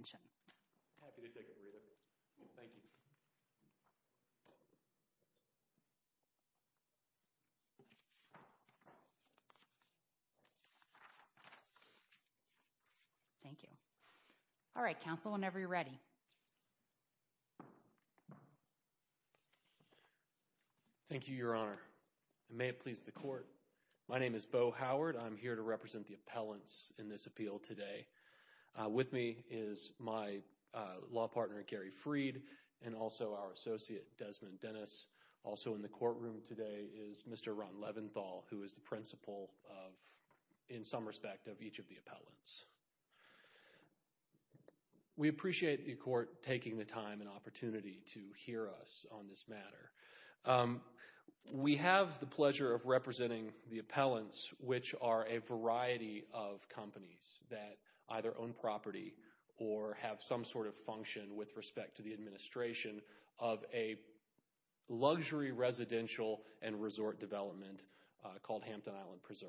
I'm happy to take a breather. Thank you. Thank you. All right, counsel, whenever you're ready. Thank you, Your Honor. And may it please the court, my name is Beau Howard. I'm here to represent the appellants in this appeal today. With me is my law partner, Gary Freed, and also our associate, Desmond Dennis. Also in the courtroom today is Mr. Ron Leventhal, who is the principal of, in some respect, of each of the appellants. We appreciate the court taking the time and opportunity to hear us on this matter. We have the pleasure of representing the appellants, which are a variety of companies that either own property or have some sort of function with respect to the administration of a luxury residential and resort development called Hampton Island Preserve.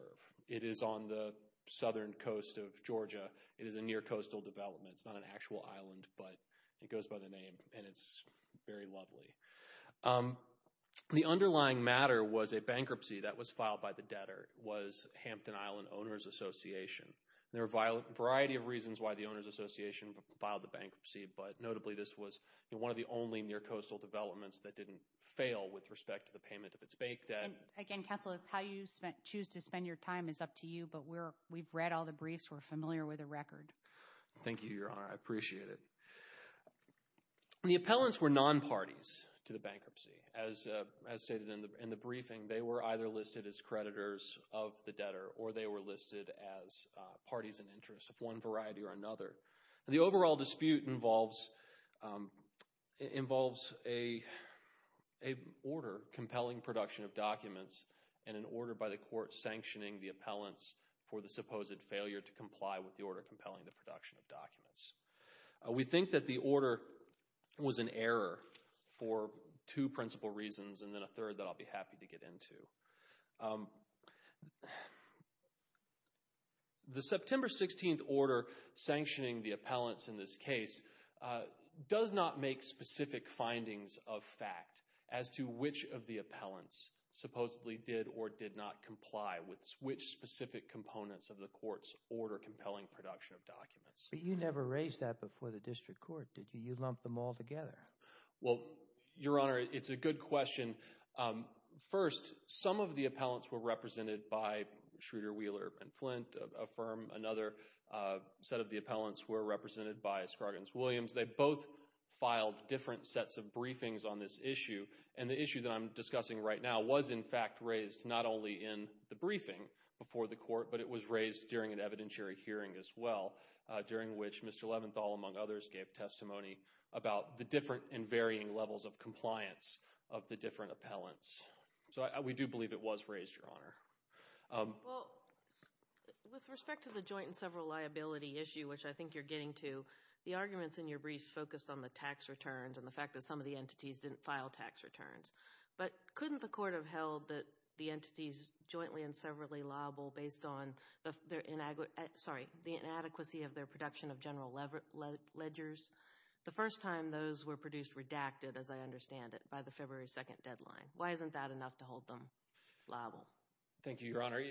It is on the southern coast of Georgia. It is a near coastal development. It's not an actual island, but it goes by the name, and it's very lovely. The underlying matter was a bankruptcy that was filed by the debtor. It was Hampton Island Owners Association. There are a variety of reasons why the owners association filed the bankruptcy, but notably this was one of the only near coastal developments that didn't fail with respect to the payment of its bank debt. Again, counsel, how you choose to spend your time is up to you, but we've read all the briefs. We're familiar with the record. Thank you, Your Honor. I appreciate it. The appellants were non-parties to the bankruptcy. As stated in the briefing, they were either listed as creditors of the debtor or they were listed as parties in interest of one variety or another. The overall dispute involves an order compelling production of documents and an order by the court sanctioning the appellants for the supposed failure to comply with the order compelling the production of documents. We think that the order was an error for two principal reasons and then a third that I'll be happy to get into. The September 16th order sanctioning the appellants in this case does not make specific findings of fact as to which of the appellants supposedly did or did not comply with which specific components of the court's order compelling production of documents. But you never raised that before the district court, did you? You lumped them all together. Well, Your Honor, it's a good question. First, some of the appellants were represented by Schroeder, Wheeler, and Flint. A firm, another set of the appellants were represented by Scargans-Williams. They both filed different sets of briefings on this issue, and the issue that I'm discussing right now was in fact raised not only in the briefing before the court, but it was raised during an evidentiary hearing as well, during which Mr. Leventhal, among others, gave testimony about the different and varying levels of compliance of the different appellants. So we do believe it was raised, Your Honor. Well, with respect to the joint and several liability issue, which I think you're getting to, the arguments in your brief focused on the tax returns and the fact that some of the entities didn't file tax returns. But couldn't the court have held that the entities jointly and severally liable based on the inadequacy of their production of general ledgers the first time those were produced redacted, as I understand it, by the February 2 deadline? Why isn't that enough to hold them liable? Thank you, Your Honor.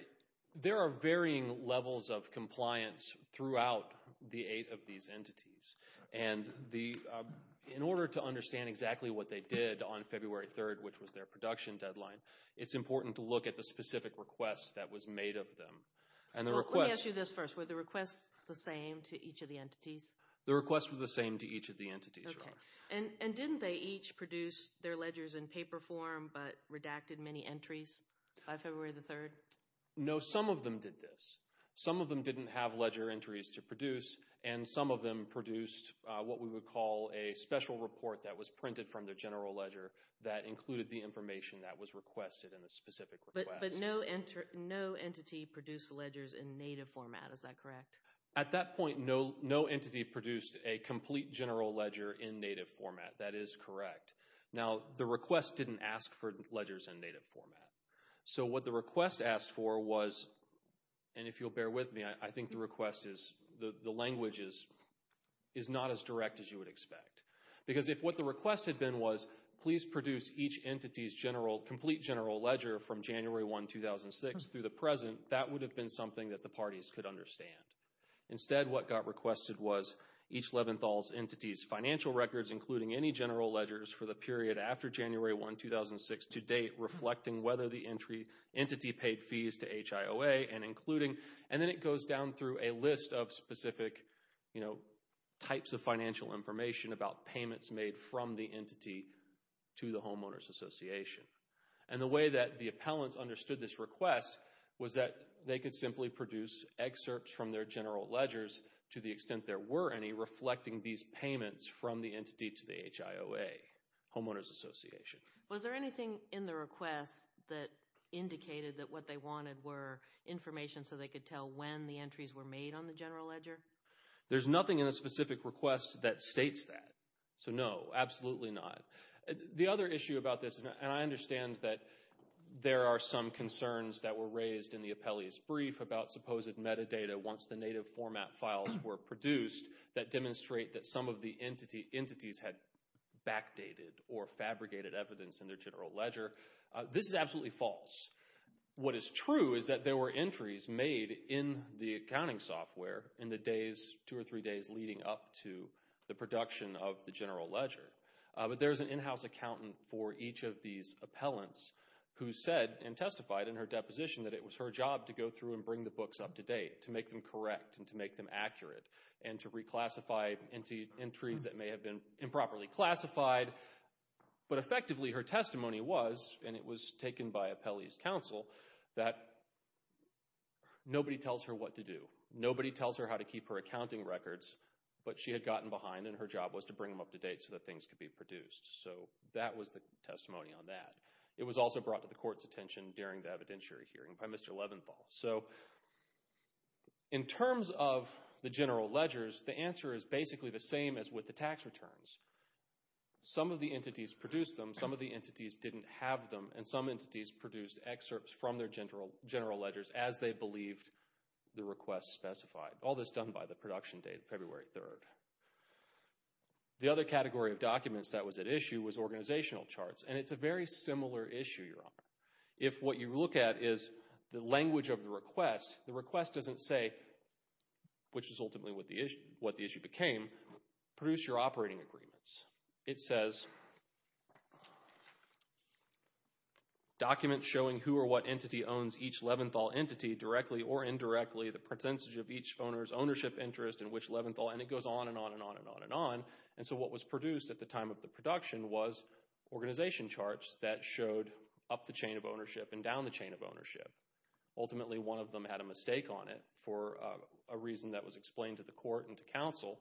There are varying levels of compliance throughout the eight of these entities. And in order to understand exactly what they did on February 3, which was their production deadline, it's important to look at the specific request that was made of them. Let me ask you this first. Were the requests the same to each of the entities? The requests were the same to each of the entities, Your Honor. Okay. And didn't they each produce their ledgers in paper form but redacted many entries by February 3? No, some of them did this. Some of them didn't have ledger entries to produce, and some of them produced what we would call a special report that was printed from the general ledger that included the information that was requested in the specific request. But no entity produced ledgers in native format. Is that correct? At that point, no entity produced a complete general ledger in native format. That is correct. Now, the request didn't ask for ledgers in native format. So what the request asked for was, and if you'll bear with me, I think the request is, the language is not as direct as you would expect. Because if what the request had been was, please produce each entity's complete general ledger from January 1, 2006 through the present, that would have been something that the parties could understand. Instead, what got requested was each Leventhal's entity's financial records, including any general ledgers for the period after January 1, 2006 to date, reflecting whether the entity paid fees to HIOA and including. And then it goes down through a list of specific types of financial information about payments made from the entity to the homeowners association. And the way that the appellants understood this request was that they could simply produce excerpts from their general ledgers to the extent there were any reflecting these payments from the entity to the HIOA, homeowners association. Was there anything in the request that indicated that what they wanted were information so they could tell when the entries were made on the general ledger? There's nothing in the specific request that states that. So no, absolutely not. The other issue about this, and I understand that there are some concerns that were raised in the appellee's brief about supposed metadata once the native format files were produced that demonstrate that some of the entities had backdated or fabricated evidence in their general ledger. This is absolutely false. What is true is that there were entries made in the accounting software in the days, two or three days leading up to the production of the general ledger. But there's an in-house accountant for each of these appellants who said and testified in her deposition that it was her job to go through and bring the books up to date to make them correct and to make them accurate and to reclassify entries that may have been improperly classified. But effectively her testimony was, and it was taken by appellee's counsel, that nobody tells her what to do. Nobody tells her how to keep her accounting records. But she had gotten behind and her job was to bring them up to date so that things could be produced. So that was the testimony on that. It was also brought to the court's attention during the evidentiary hearing by Mr. Leventhal. So in terms of the general ledgers, the answer is basically the same as with the tax returns. Some of the entities produced them. Some of the entities didn't have them. And some entities produced excerpts from their general ledgers as they believed the request specified. All this done by the production date, February 3rd. The other category of documents that was at issue was organizational charts. And it's a very similar issue, Your Honor. If what you look at is the language of the request, the request doesn't say, which is ultimately what the issue became, produce your operating agreements. It says documents showing who or what entity owns each Leventhal entity directly or indirectly, the percentage of each owner's ownership interest in which Leventhal, and it goes on and on and on and on and on. And so what was produced at the time of the production was organization charts that showed up the chain of ownership and down the chain of ownership. Ultimately, one of them had a mistake on it for a reason that was explained to the court and to counsel,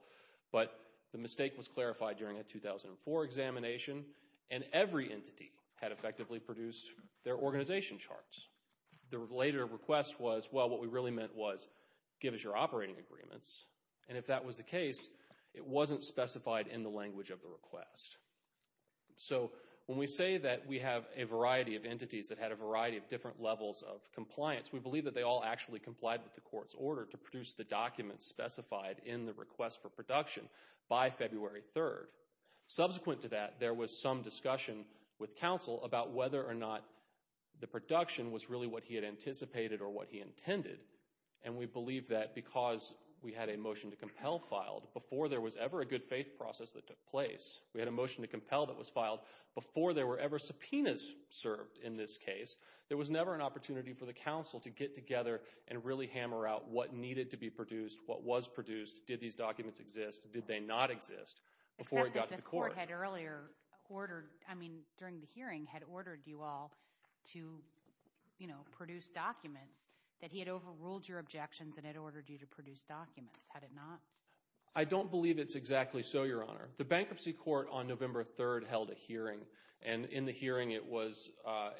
but the mistake was clarified during a 2004 examination, and every entity had effectively produced their organization charts. The later request was, well, what we really meant was give us your operating agreements. And if that was the case, it wasn't specified in the language of the request. So when we say that we have a variety of entities that had a variety of different levels of compliance, we believe that they all actually complied with the court's order to produce the documents specified in the request for production by February 3rd. Subsequent to that, there was some discussion with counsel about whether or not the production was really what he had anticipated or what he intended. And we believe that because we had a motion to compel filed before there was ever a good faith process that took place. We had a motion to compel that was filed before there were ever subpoenas served in this case. There was never an opportunity for the counsel to get together and really hammer out what needed to be produced, what was produced, did these documents exist, did they not exist before it got to the court. The court had earlier ordered, I mean during the hearing, had ordered you all to produce documents, that he had overruled your objections and had ordered you to produce documents. Had it not? I don't believe it's exactly so, Your Honor. The bankruptcy court on November 3rd held a hearing, and in the hearing it was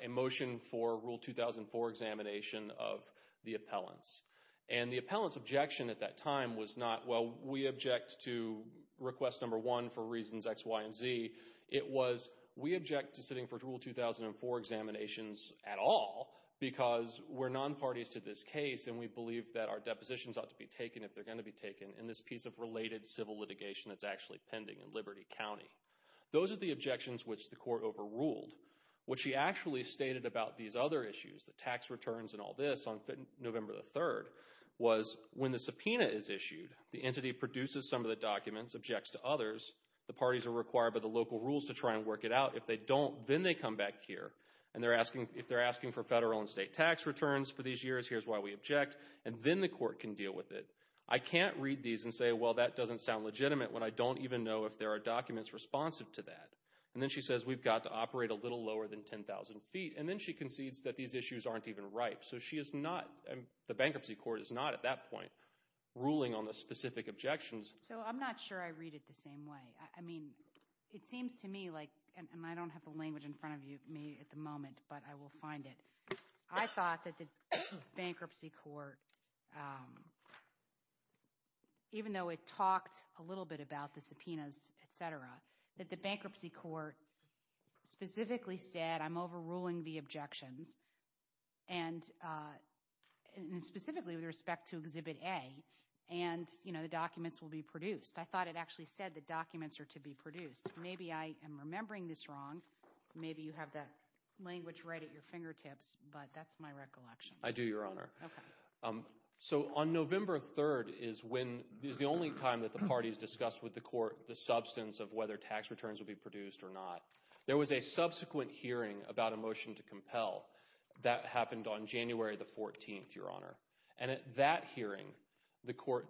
a motion for Rule 2004 examination of the appellants. And the appellant's objection at that time was not, well, we object to request number one for reasons X, Y, and Z. It was, we object to sitting for Rule 2004 examinations at all because we're non-parties to this case and we believe that our depositions ought to be taken if they're going to be taken in this piece of related civil litigation that's actually pending in Liberty County. Those are the objections which the court overruled. What she actually stated about these other issues, the tax returns and all this, on November 3rd, was when the subpoena is issued, the entity produces some of the documents, objects to others, the parties are required by the local rules to try and work it out. If they don't, then they come back here, and if they're asking for federal and state tax returns for these years, here's why we object, and then the court can deal with it. I can't read these and say, well, that doesn't sound legitimate when I don't even know if there are documents responsive to that. And then she says we've got to operate a little lower than 10,000 feet, and then she concedes that these issues aren't even ripe. So she is not, the bankruptcy court is not at that point ruling on the specific objections. So I'm not sure I read it the same way. I mean it seems to me like, and I don't have the language in front of me at the moment, but I will find it. I thought that the bankruptcy court, even though it talked a little bit about the subpoenas, et cetera, that the bankruptcy court specifically said I'm overruling the objections, and specifically with respect to Exhibit A, and, you know, the documents will be produced. I thought it actually said the documents are to be produced. Maybe I am remembering this wrong. Maybe you have that language right at your fingertips, but that's my recollection. I do, Your Honor. So on November 3rd is the only time that the parties discussed with the court the substance of whether tax returns will be produced or not. There was a subsequent hearing about a motion to compel that happened on January 14th, Your Honor. And at that hearing, the court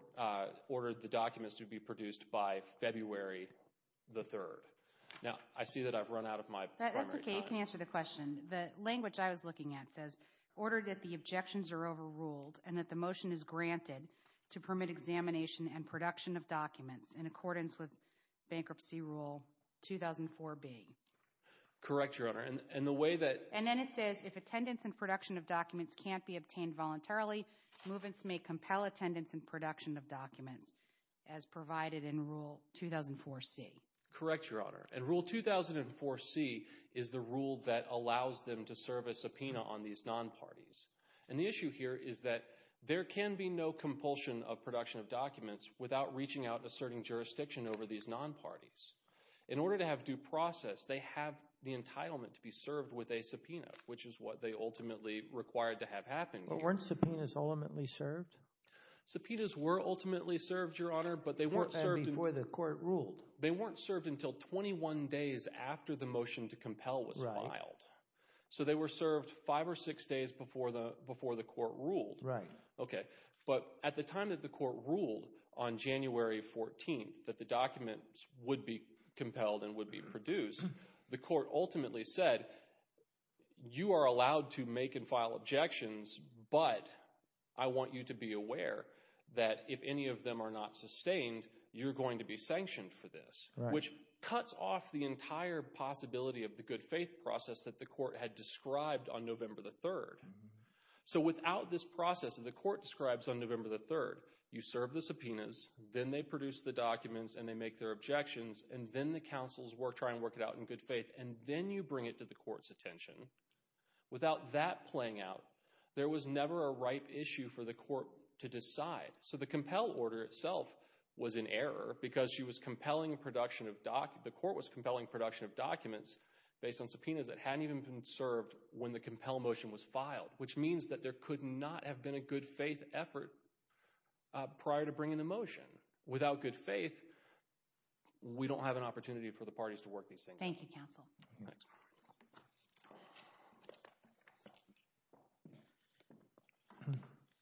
ordered the documents to be produced by February 3rd. Now, I see that I've run out of my time. That's okay. You can answer the question. The language I was looking at says order that the objections are overruled and that the motion is granted to permit examination and production of documents in accordance with Bankruptcy Rule 2004B. Correct, Your Honor, and the way that— And then it says if attendance and production of documents can't be obtained voluntarily, movements may compel attendance and production of documents as provided in Rule 2004C. Correct, Your Honor. And Rule 2004C is the rule that allows them to serve a subpoena on these non-parties. And the issue here is that there can be no compulsion of production of documents without reaching out and asserting jurisdiction over these non-parties. In order to have due process, they have the entitlement to be served with a subpoena, which is what they ultimately required to have happen here. But weren't subpoenas ultimately served? Subpoenas were ultimately served, Your Honor, but they weren't served— Before the court ruled. They weren't served until 21 days after the motion to compel was filed. Right. So they were served five or six days before the court ruled. Right. Okay, but at the time that the court ruled on January 14th that the documents would be compelled and would be produced, the court ultimately said you are allowed to make and file objections, but I want you to be aware that if any of them are not sustained, you're going to be sanctioned for this, which cuts off the entire possibility of the good faith process that the court had described on November 3rd. So without this process that the court describes on November 3rd, you serve the subpoenas, then they produce the documents and they make their objections, and then the counsels try and work it out in good faith, and then you bring it to the court's attention. Without that playing out, there was never a ripe issue for the court to decide. So the compel order itself was in error because the court was compelling production of documents based on subpoenas that hadn't even been served when the compel motion was filed, which means that there could not have been a good faith effort prior to bringing the motion. Without good faith, we don't have an opportunity for the parties to work these things. Thank you, counsel. Thanks.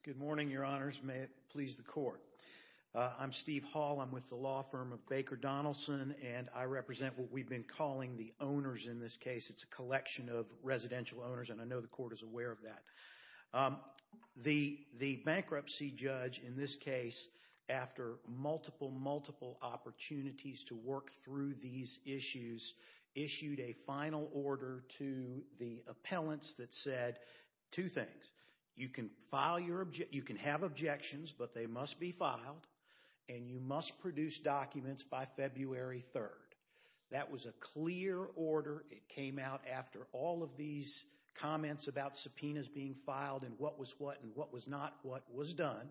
Good morning, Your Honors. May it please the court. I'm Steve Hall. I'm with the law firm of Baker Donaldson, and I represent what we've been calling the owners in this case. It's a collection of residential owners, and I know the court is aware of that. The bankruptcy judge in this case, after multiple, multiple opportunities to work through these issues, issued a final order to the appellants that said two things. You can have objections, but they must be filed, and you must produce documents by February 3rd. That was a clear order. It came out after all of these comments about subpoenas being filed and what was what and what was not what was done,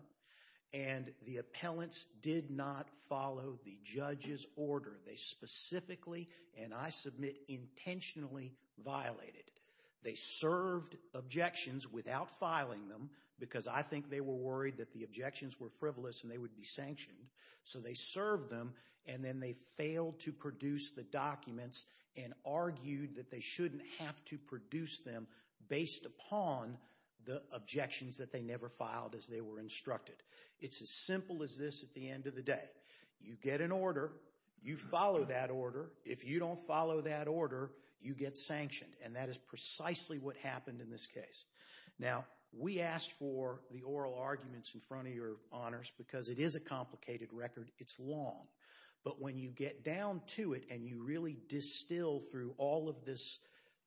and the appellants did not follow the judge's order. They specifically, and I submit intentionally, violated it. They served objections without filing them because I think they were worried that the objections were frivolous and they would be sanctioned, so they served them, and then they failed to produce the documents and argued that they shouldn't have to produce them based upon the objections that they never filed as they were instructed. It's as simple as this at the end of the day. You get an order, you follow that order. If you don't follow that order, you get sanctioned, and that is precisely what happened in this case. Now, we asked for the oral arguments in front of your honors because it is a complicated record. It's long, but when you get down to it and you really distill through all of this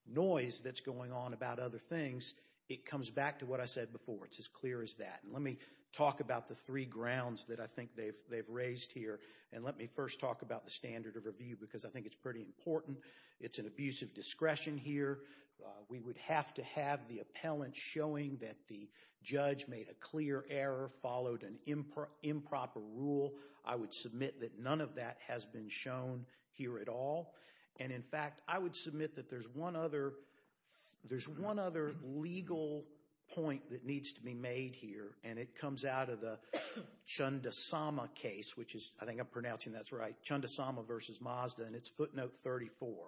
noise that's going on about other things, it comes back to what I said before. It's as clear as that. Let me talk about the three grounds that I think they've raised here, and let me first talk about the standard of review because I think it's pretty important. It's an abuse of discretion here. We would have to have the appellant showing that the judge made a clear error, followed an improper rule. I would submit that none of that has been shown here at all, and, in fact, I would submit that there's one other legal point that needs to be made here, and it comes out of the Chundasama case, which is, I think I'm pronouncing that right, Chundasama v. Mazda, and it's footnote 34.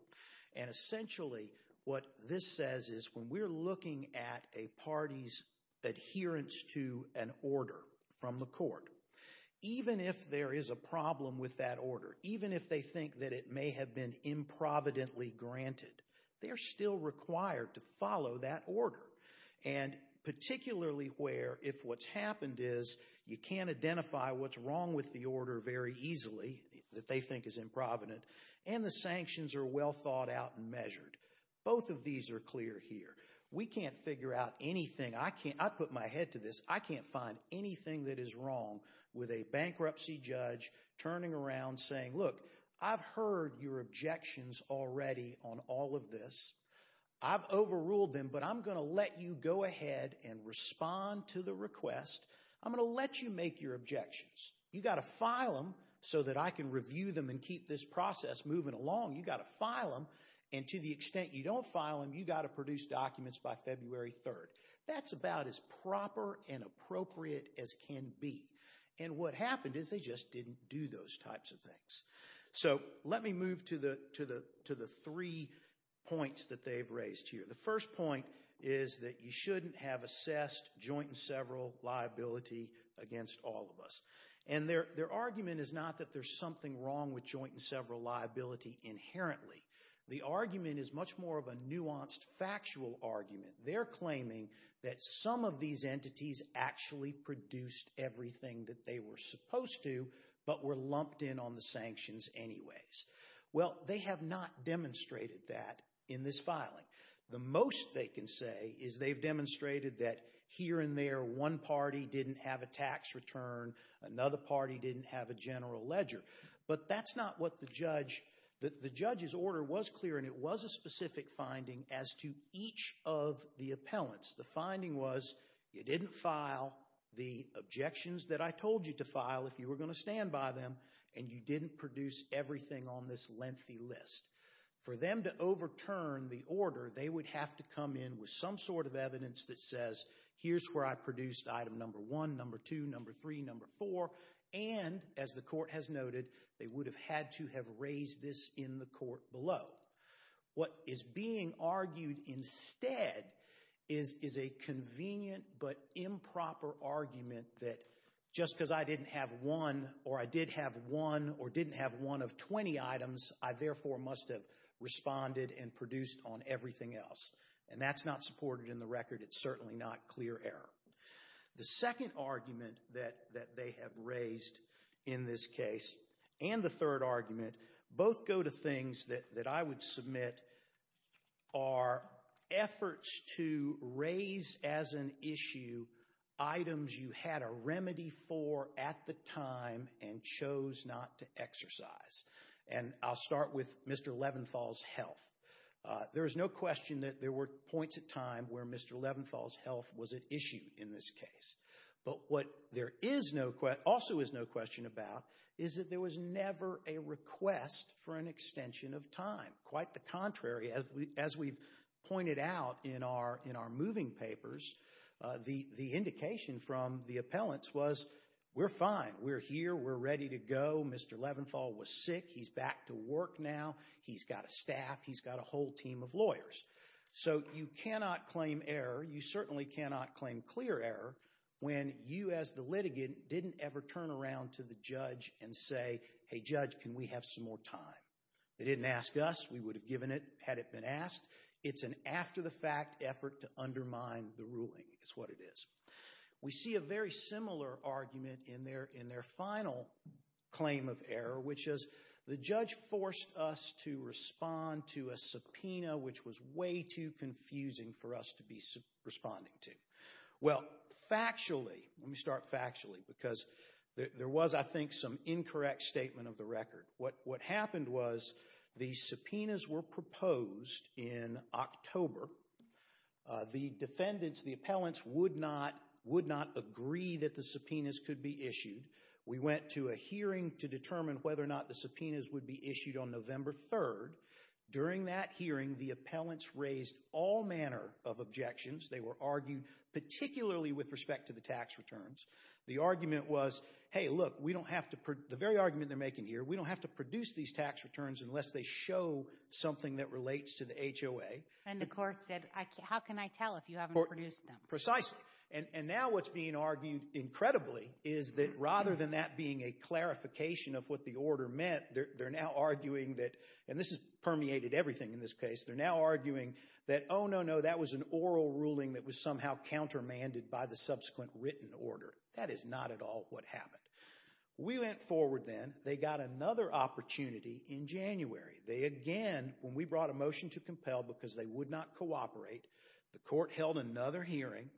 And essentially what this says is when we're looking at a party's adherence to an order from the court, even if there is a problem with that order, even if they think that it may have been improvidently granted, they're still required to follow that order, and particularly where if what's happened is you can't identify what's wrong with the order very easily, that they think is improvident, and the sanctions are well thought out and measured. Both of these are clear here. We can't figure out anything. I put my head to this. I can't find anything that is wrong with a bankruptcy judge turning around saying, look, I've heard your objections already on all of this. I've overruled them, but I'm going to let you go ahead and respond to the request. I'm going to let you make your objections. You've got to file them so that I can review them and keep this process moving along. You've got to file them, and to the extent you don't file them, you've got to produce documents by February 3rd. That's about as proper and appropriate as can be. And what happened is they just didn't do those types of things. So let me move to the three points that they've raised here. The first point is that you shouldn't have assessed joint and several liability against all of us. And their argument is not that there's something wrong with joint and several liability inherently. The argument is much more of a nuanced, factual argument. They're claiming that some of these entities actually produced everything that they were supposed to but were lumped in on the sanctions anyways. Well, they have not demonstrated that in this filing. The most they can say is they've demonstrated that here and there one party didn't have a tax return, another party didn't have a general ledger. But that's not what the judge—the judge's order was clear, and it was a specific finding as to each of the appellants. The finding was you didn't file the objections that I told you to file if you were going to stand by them, and you didn't produce everything on this lengthy list. For them to overturn the order, they would have to come in with some sort of evidence that says, here's where I produced item number one, number two, number three, number four. And, as the court has noted, they would have had to have raised this in the court below. What is being argued instead is a convenient but improper argument that just because I didn't have one or I did have one or didn't have one of 20 items, I therefore must have responded and produced on everything else. And that's not supported in the record. It's certainly not clear error. The second argument that they have raised in this case, and the third argument, both go to things that I would submit are efforts to raise as an issue items you had a remedy for at the time and chose not to exercise. And I'll start with Mr. Levinfall's health. There is no question that there were points in time where Mr. Levinfall's health was an issue in this case. But what there also is no question about is that there was never a request for an extension of time. Quite the contrary, as we've pointed out in our moving papers, the indication from the appellants was, we're fine, we're here, we're ready to go, Mr. Levinfall was sick, he's back to work now, he's got a staff, he's got a whole team of lawyers. So you cannot claim error, you certainly cannot claim clear error, when you as the litigant didn't ever turn around to the judge and say, hey judge, can we have some more time? They didn't ask us, we would have given it had it been asked. It's an after-the-fact effort to undermine the ruling, is what it is. We see a very similar argument in their final claim of error, which is the judge forced us to respond to a subpoena, which was way too confusing for us to be responding to. Well, factually, let me start factually, because there was, I think, some incorrect statement of the record. What happened was the subpoenas were proposed in October. The defendants, the appellants, would not agree that the subpoenas could be issued. We went to a hearing to determine whether or not the subpoenas would be issued on November 3rd. During that hearing, the appellants raised all manner of objections. They were argued particularly with respect to the tax returns. The argument was, hey look, we don't have to, the very argument they're making here, we don't have to produce these tax returns unless they show something that relates to the HOA. And the court said, how can I tell if you haven't produced them? Precisely, and now what's being argued incredibly is that rather than that being a clarification of what the order meant, they're now arguing that, and this has permeated everything in this case, they're now arguing that, oh no, no, that was an oral ruling that was somehow countermanded by the subsequent written order. That is not at all what happened. We went forward then. They got another opportunity in January. They again, when we brought a motion to compel because they would not cooperate, the court held another hearing,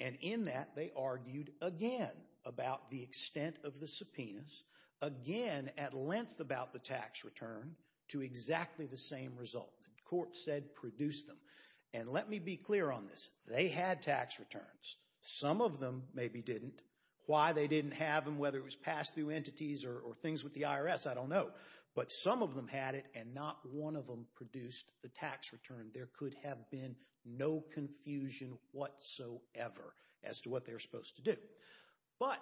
and in that they argued again about the extent of the subpoenas, again at length about the tax return, to exactly the same result. The court said, produce them. And let me be clear on this. They had tax returns. Some of them maybe didn't. Why they didn't have them, whether it was pass-through entities or things with the IRS, I don't know. But some of them had it, and not one of them produced the tax return. There could have been no confusion whatsoever as to what they were supposed to do. But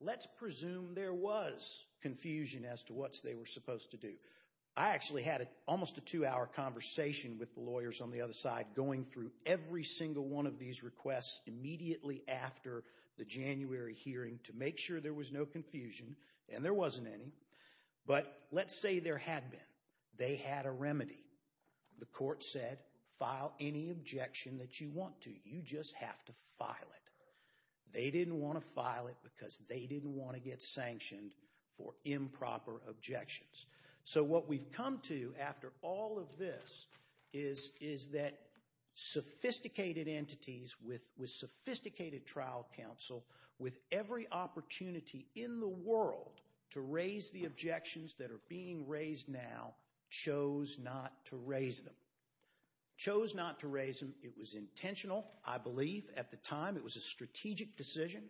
let's presume there was confusion as to what they were supposed to do. I actually had almost a two-hour conversation with the lawyers on the other side going through every single one of these requests immediately after the January hearing to make sure there was no confusion, and there wasn't any. But let's say there had been. They had a remedy. The court said, file any objection that you want to. You just have to file it. They didn't want to file it because they didn't want to get sanctioned for improper objections. So what we've come to after all of this is that sophisticated entities with sophisticated trial counsel with every opportunity in the world to raise the objections that are being raised now chose not to raise them. Chose not to raise them. It was intentional, I believe, at the time. It was a strategic decision.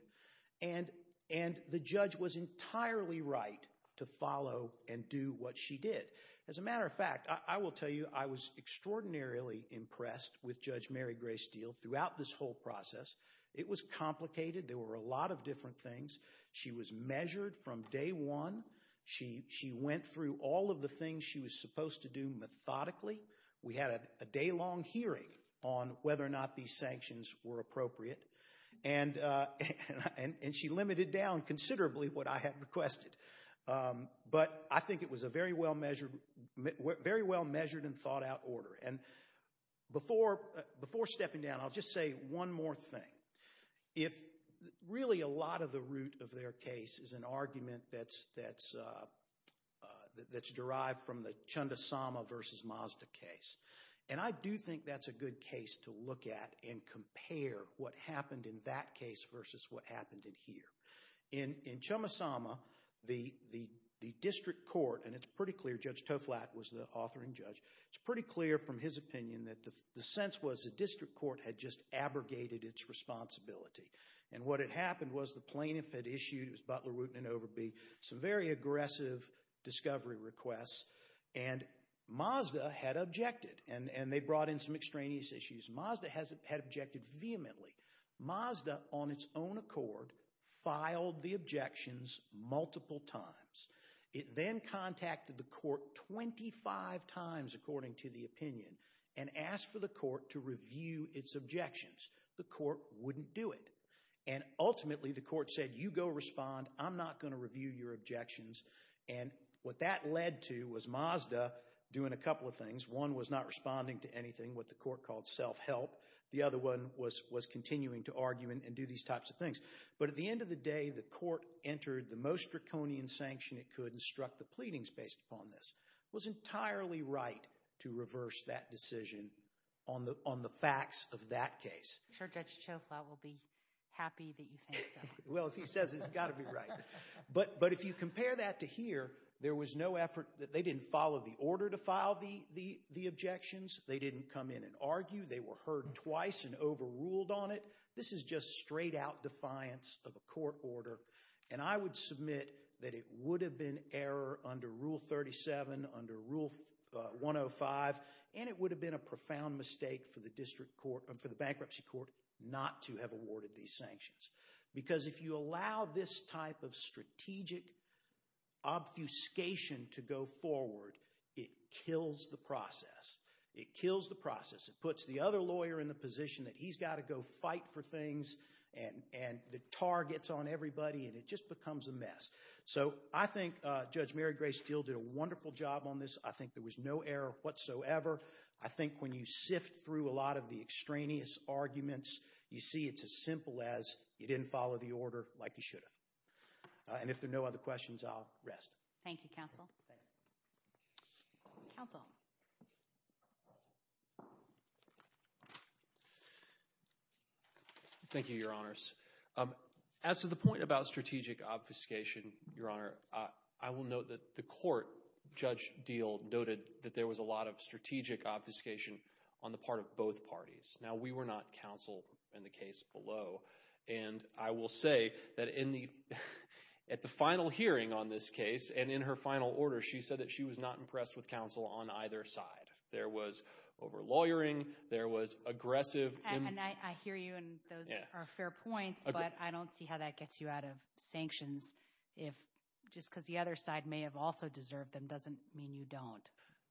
And the judge was entirely right to follow and do what she did. As a matter of fact, I will tell you I was extraordinarily impressed with Judge Mary Gray Steele throughout this whole process. It was complicated. There were a lot of different things. She was measured from day one. She went through all of the things she was supposed to do methodically. We had a day-long hearing on whether or not these sanctions were appropriate. And she limited down considerably what I had requested. But I think it was a very well-measured and thought-out order. And before stepping down, I'll just say one more thing. Really, a lot of the root of their case is an argument that's derived from the Chundasama v. Mazda case. And I do think that's a good case to look at and compare what happened in that case versus what happened in here. In Chumasama, the district court, and it's pretty clear Judge Toflat was the author and judge, it's pretty clear from his opinion that the sense was the district court had just abrogated its responsibility. And what had happened was the plaintiff had issued, it was Butler, Wooten, and Overby, some very aggressive discovery requests, and Mazda had objected. And they brought in some extraneous issues. Mazda had objected vehemently. Mazda, on its own accord, filed the objections multiple times. It then contacted the court 25 times, according to the opinion, and asked for the court to review its objections. The court wouldn't do it. And ultimately, the court said, you go respond. I'm not going to review your objections. And what that led to was Mazda doing a couple of things. One was not responding to anything, what the court called self-help. The other one was continuing to argue and do these types of things. But at the end of the day, the court entered the most draconian sanction it could and struck the pleadings based upon this. It was entirely right to reverse that decision on the facts of that case. I'm sure Judge Toflat will be happy that you think so. Well, if he says it, it's got to be right. But if you compare that to here, there was no effort. They didn't follow the order to file the objections. They didn't come in and argue. They were heard twice and overruled on it. This is just straight-out defiance of a court order. And I would submit that it would have been error under Rule 37, under Rule 105, and it would have been a profound mistake for the bankruptcy court not to have awarded these sanctions. Because if you allow this type of strategic obfuscation to go forward, it kills the process. It kills the process. It puts the other lawyer in the position that he's got to go fight for things, and the tar gets on everybody, and it just becomes a mess. So I think Judge Mary Grace Gill did a wonderful job on this. I think there was no error whatsoever. I think when you sift through a lot of the extraneous arguments, you see it's as simple as you didn't follow the order like you should have. And if there are no other questions, I'll rest. Thank you, counsel. Counsel. Thank you, Your Honors. As to the point about strategic obfuscation, Your Honor, I will note that the court, Judge Deal, noted that there was a lot of strategic obfuscation on the part of both parties. Now, we were not counsel in the case below. And I will say that at the final hearing on this case and in her final order, she said that she was not impressed with counsel on either side. There was over-lawyering. There was aggressive. I hear you, and those are fair points, but I don't see how that gets you out of sanctions. Just because the other side may have also deserved them doesn't mean you don't.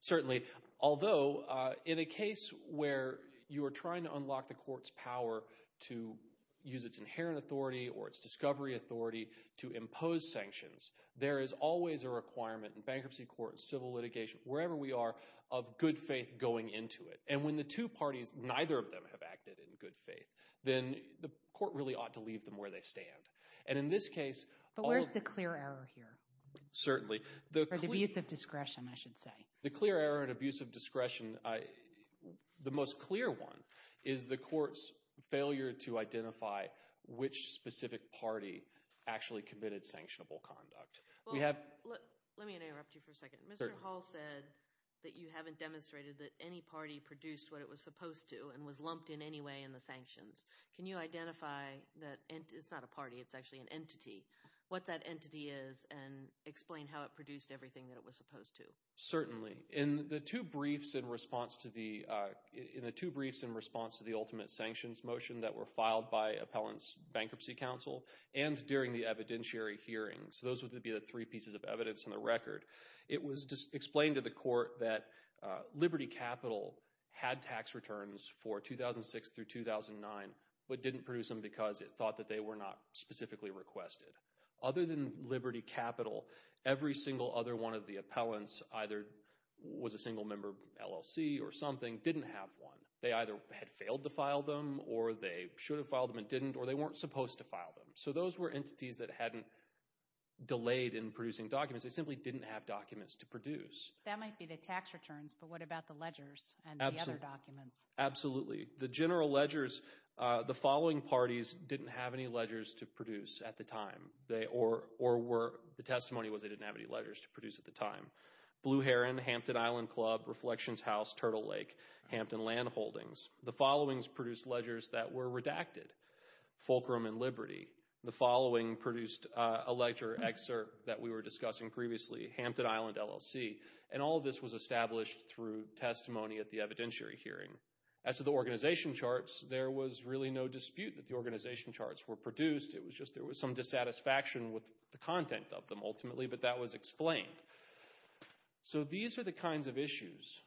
Certainly. Although, in a case where you are trying to unlock the court's power to use its inherent authority or its discovery authority to impose sanctions, there is always a requirement in bankruptcy courts, civil litigation, wherever we are, of good faith going into it. And when the two parties, neither of them have acted in good faith, then the court really ought to leave them where they stand. And in this case, all of the— But where's the clear error here? Certainly. Or the abuse of discretion, I should say. The clear error in abuse of discretion, the most clear one, is the court's failure to identify which specific party actually committed sanctionable conduct. Let me interrupt you for a second. Mr. Hall said that you haven't demonstrated that any party produced what it was supposed to and was lumped in any way in the sanctions. Can you identify that it's not a party, it's actually an entity, what that entity is and explain how it produced everything that it was supposed to? Certainly. In the two briefs in response to the ultimate sanctions motion that were filed by Appellants Bankruptcy Council and during the evidentiary hearings, those would be the three pieces of evidence in the record, it was explained to the court that Liberty Capital had tax returns for 2006 through 2009 but didn't produce them because it thought that they were not specifically requested. Other than Liberty Capital, every single other one of the appellants, either was a single-member LLC or something, didn't have one. They either had failed to file them or they should have filed them and didn't or they weren't supposed to file them. So those were entities that hadn't delayed in producing documents. They simply didn't have documents to produce. That might be the tax returns, but what about the ledgers and the other documents? Absolutely. Absolutely. The general ledgers, the following parties didn't have any ledgers to produce at the time or the testimony was they didn't have any ledgers to produce at the time. Blue Heron, Hampton Island Club, Reflections House, Turtle Lake, Hampton Land Holdings. The followings produced ledgers that were redacted, Fulcrum and Liberty. The following produced a lecture excerpt that we were discussing previously, Hampton Island LLC, and all of this was established through testimony at the evidentiary hearing. As to the organization charts, there was really no dispute that the organization charts were produced. It was just there was some dissatisfaction with the content of them ultimately, but that was explained. So these are the kinds of issues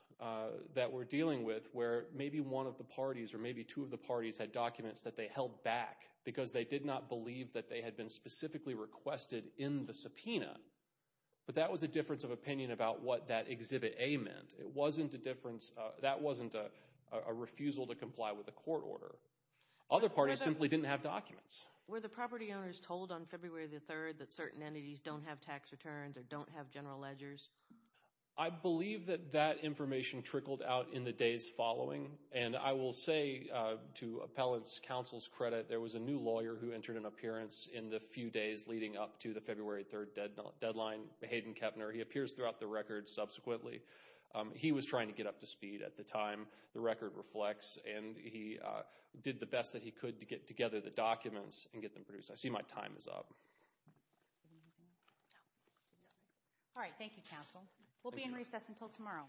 that we're dealing with where maybe one of the parties or maybe two of the parties had documents that they held back because they did not believe that they had been specifically requested in the subpoena, but that was a difference of opinion about what that Exhibit A meant. It wasn't a difference, that wasn't a refusal to comply with a court order. Other parties simply didn't have documents. Were the property owners told on February the 3rd that certain entities don't have tax returns or don't have general ledgers? I believe that that information trickled out in the days following, and I will say to appellate counsel's credit there was a new lawyer who entered an appearance in the few days leading up to the February 3rd deadline, Hayden Kepner. He appears throughout the record subsequently. He was trying to get up to speed at the time. The record reflects, and he did the best that he could to get together the documents and get them produced. I see my time is up. All right, thank you, counsel. We'll be in recess until tomorrow.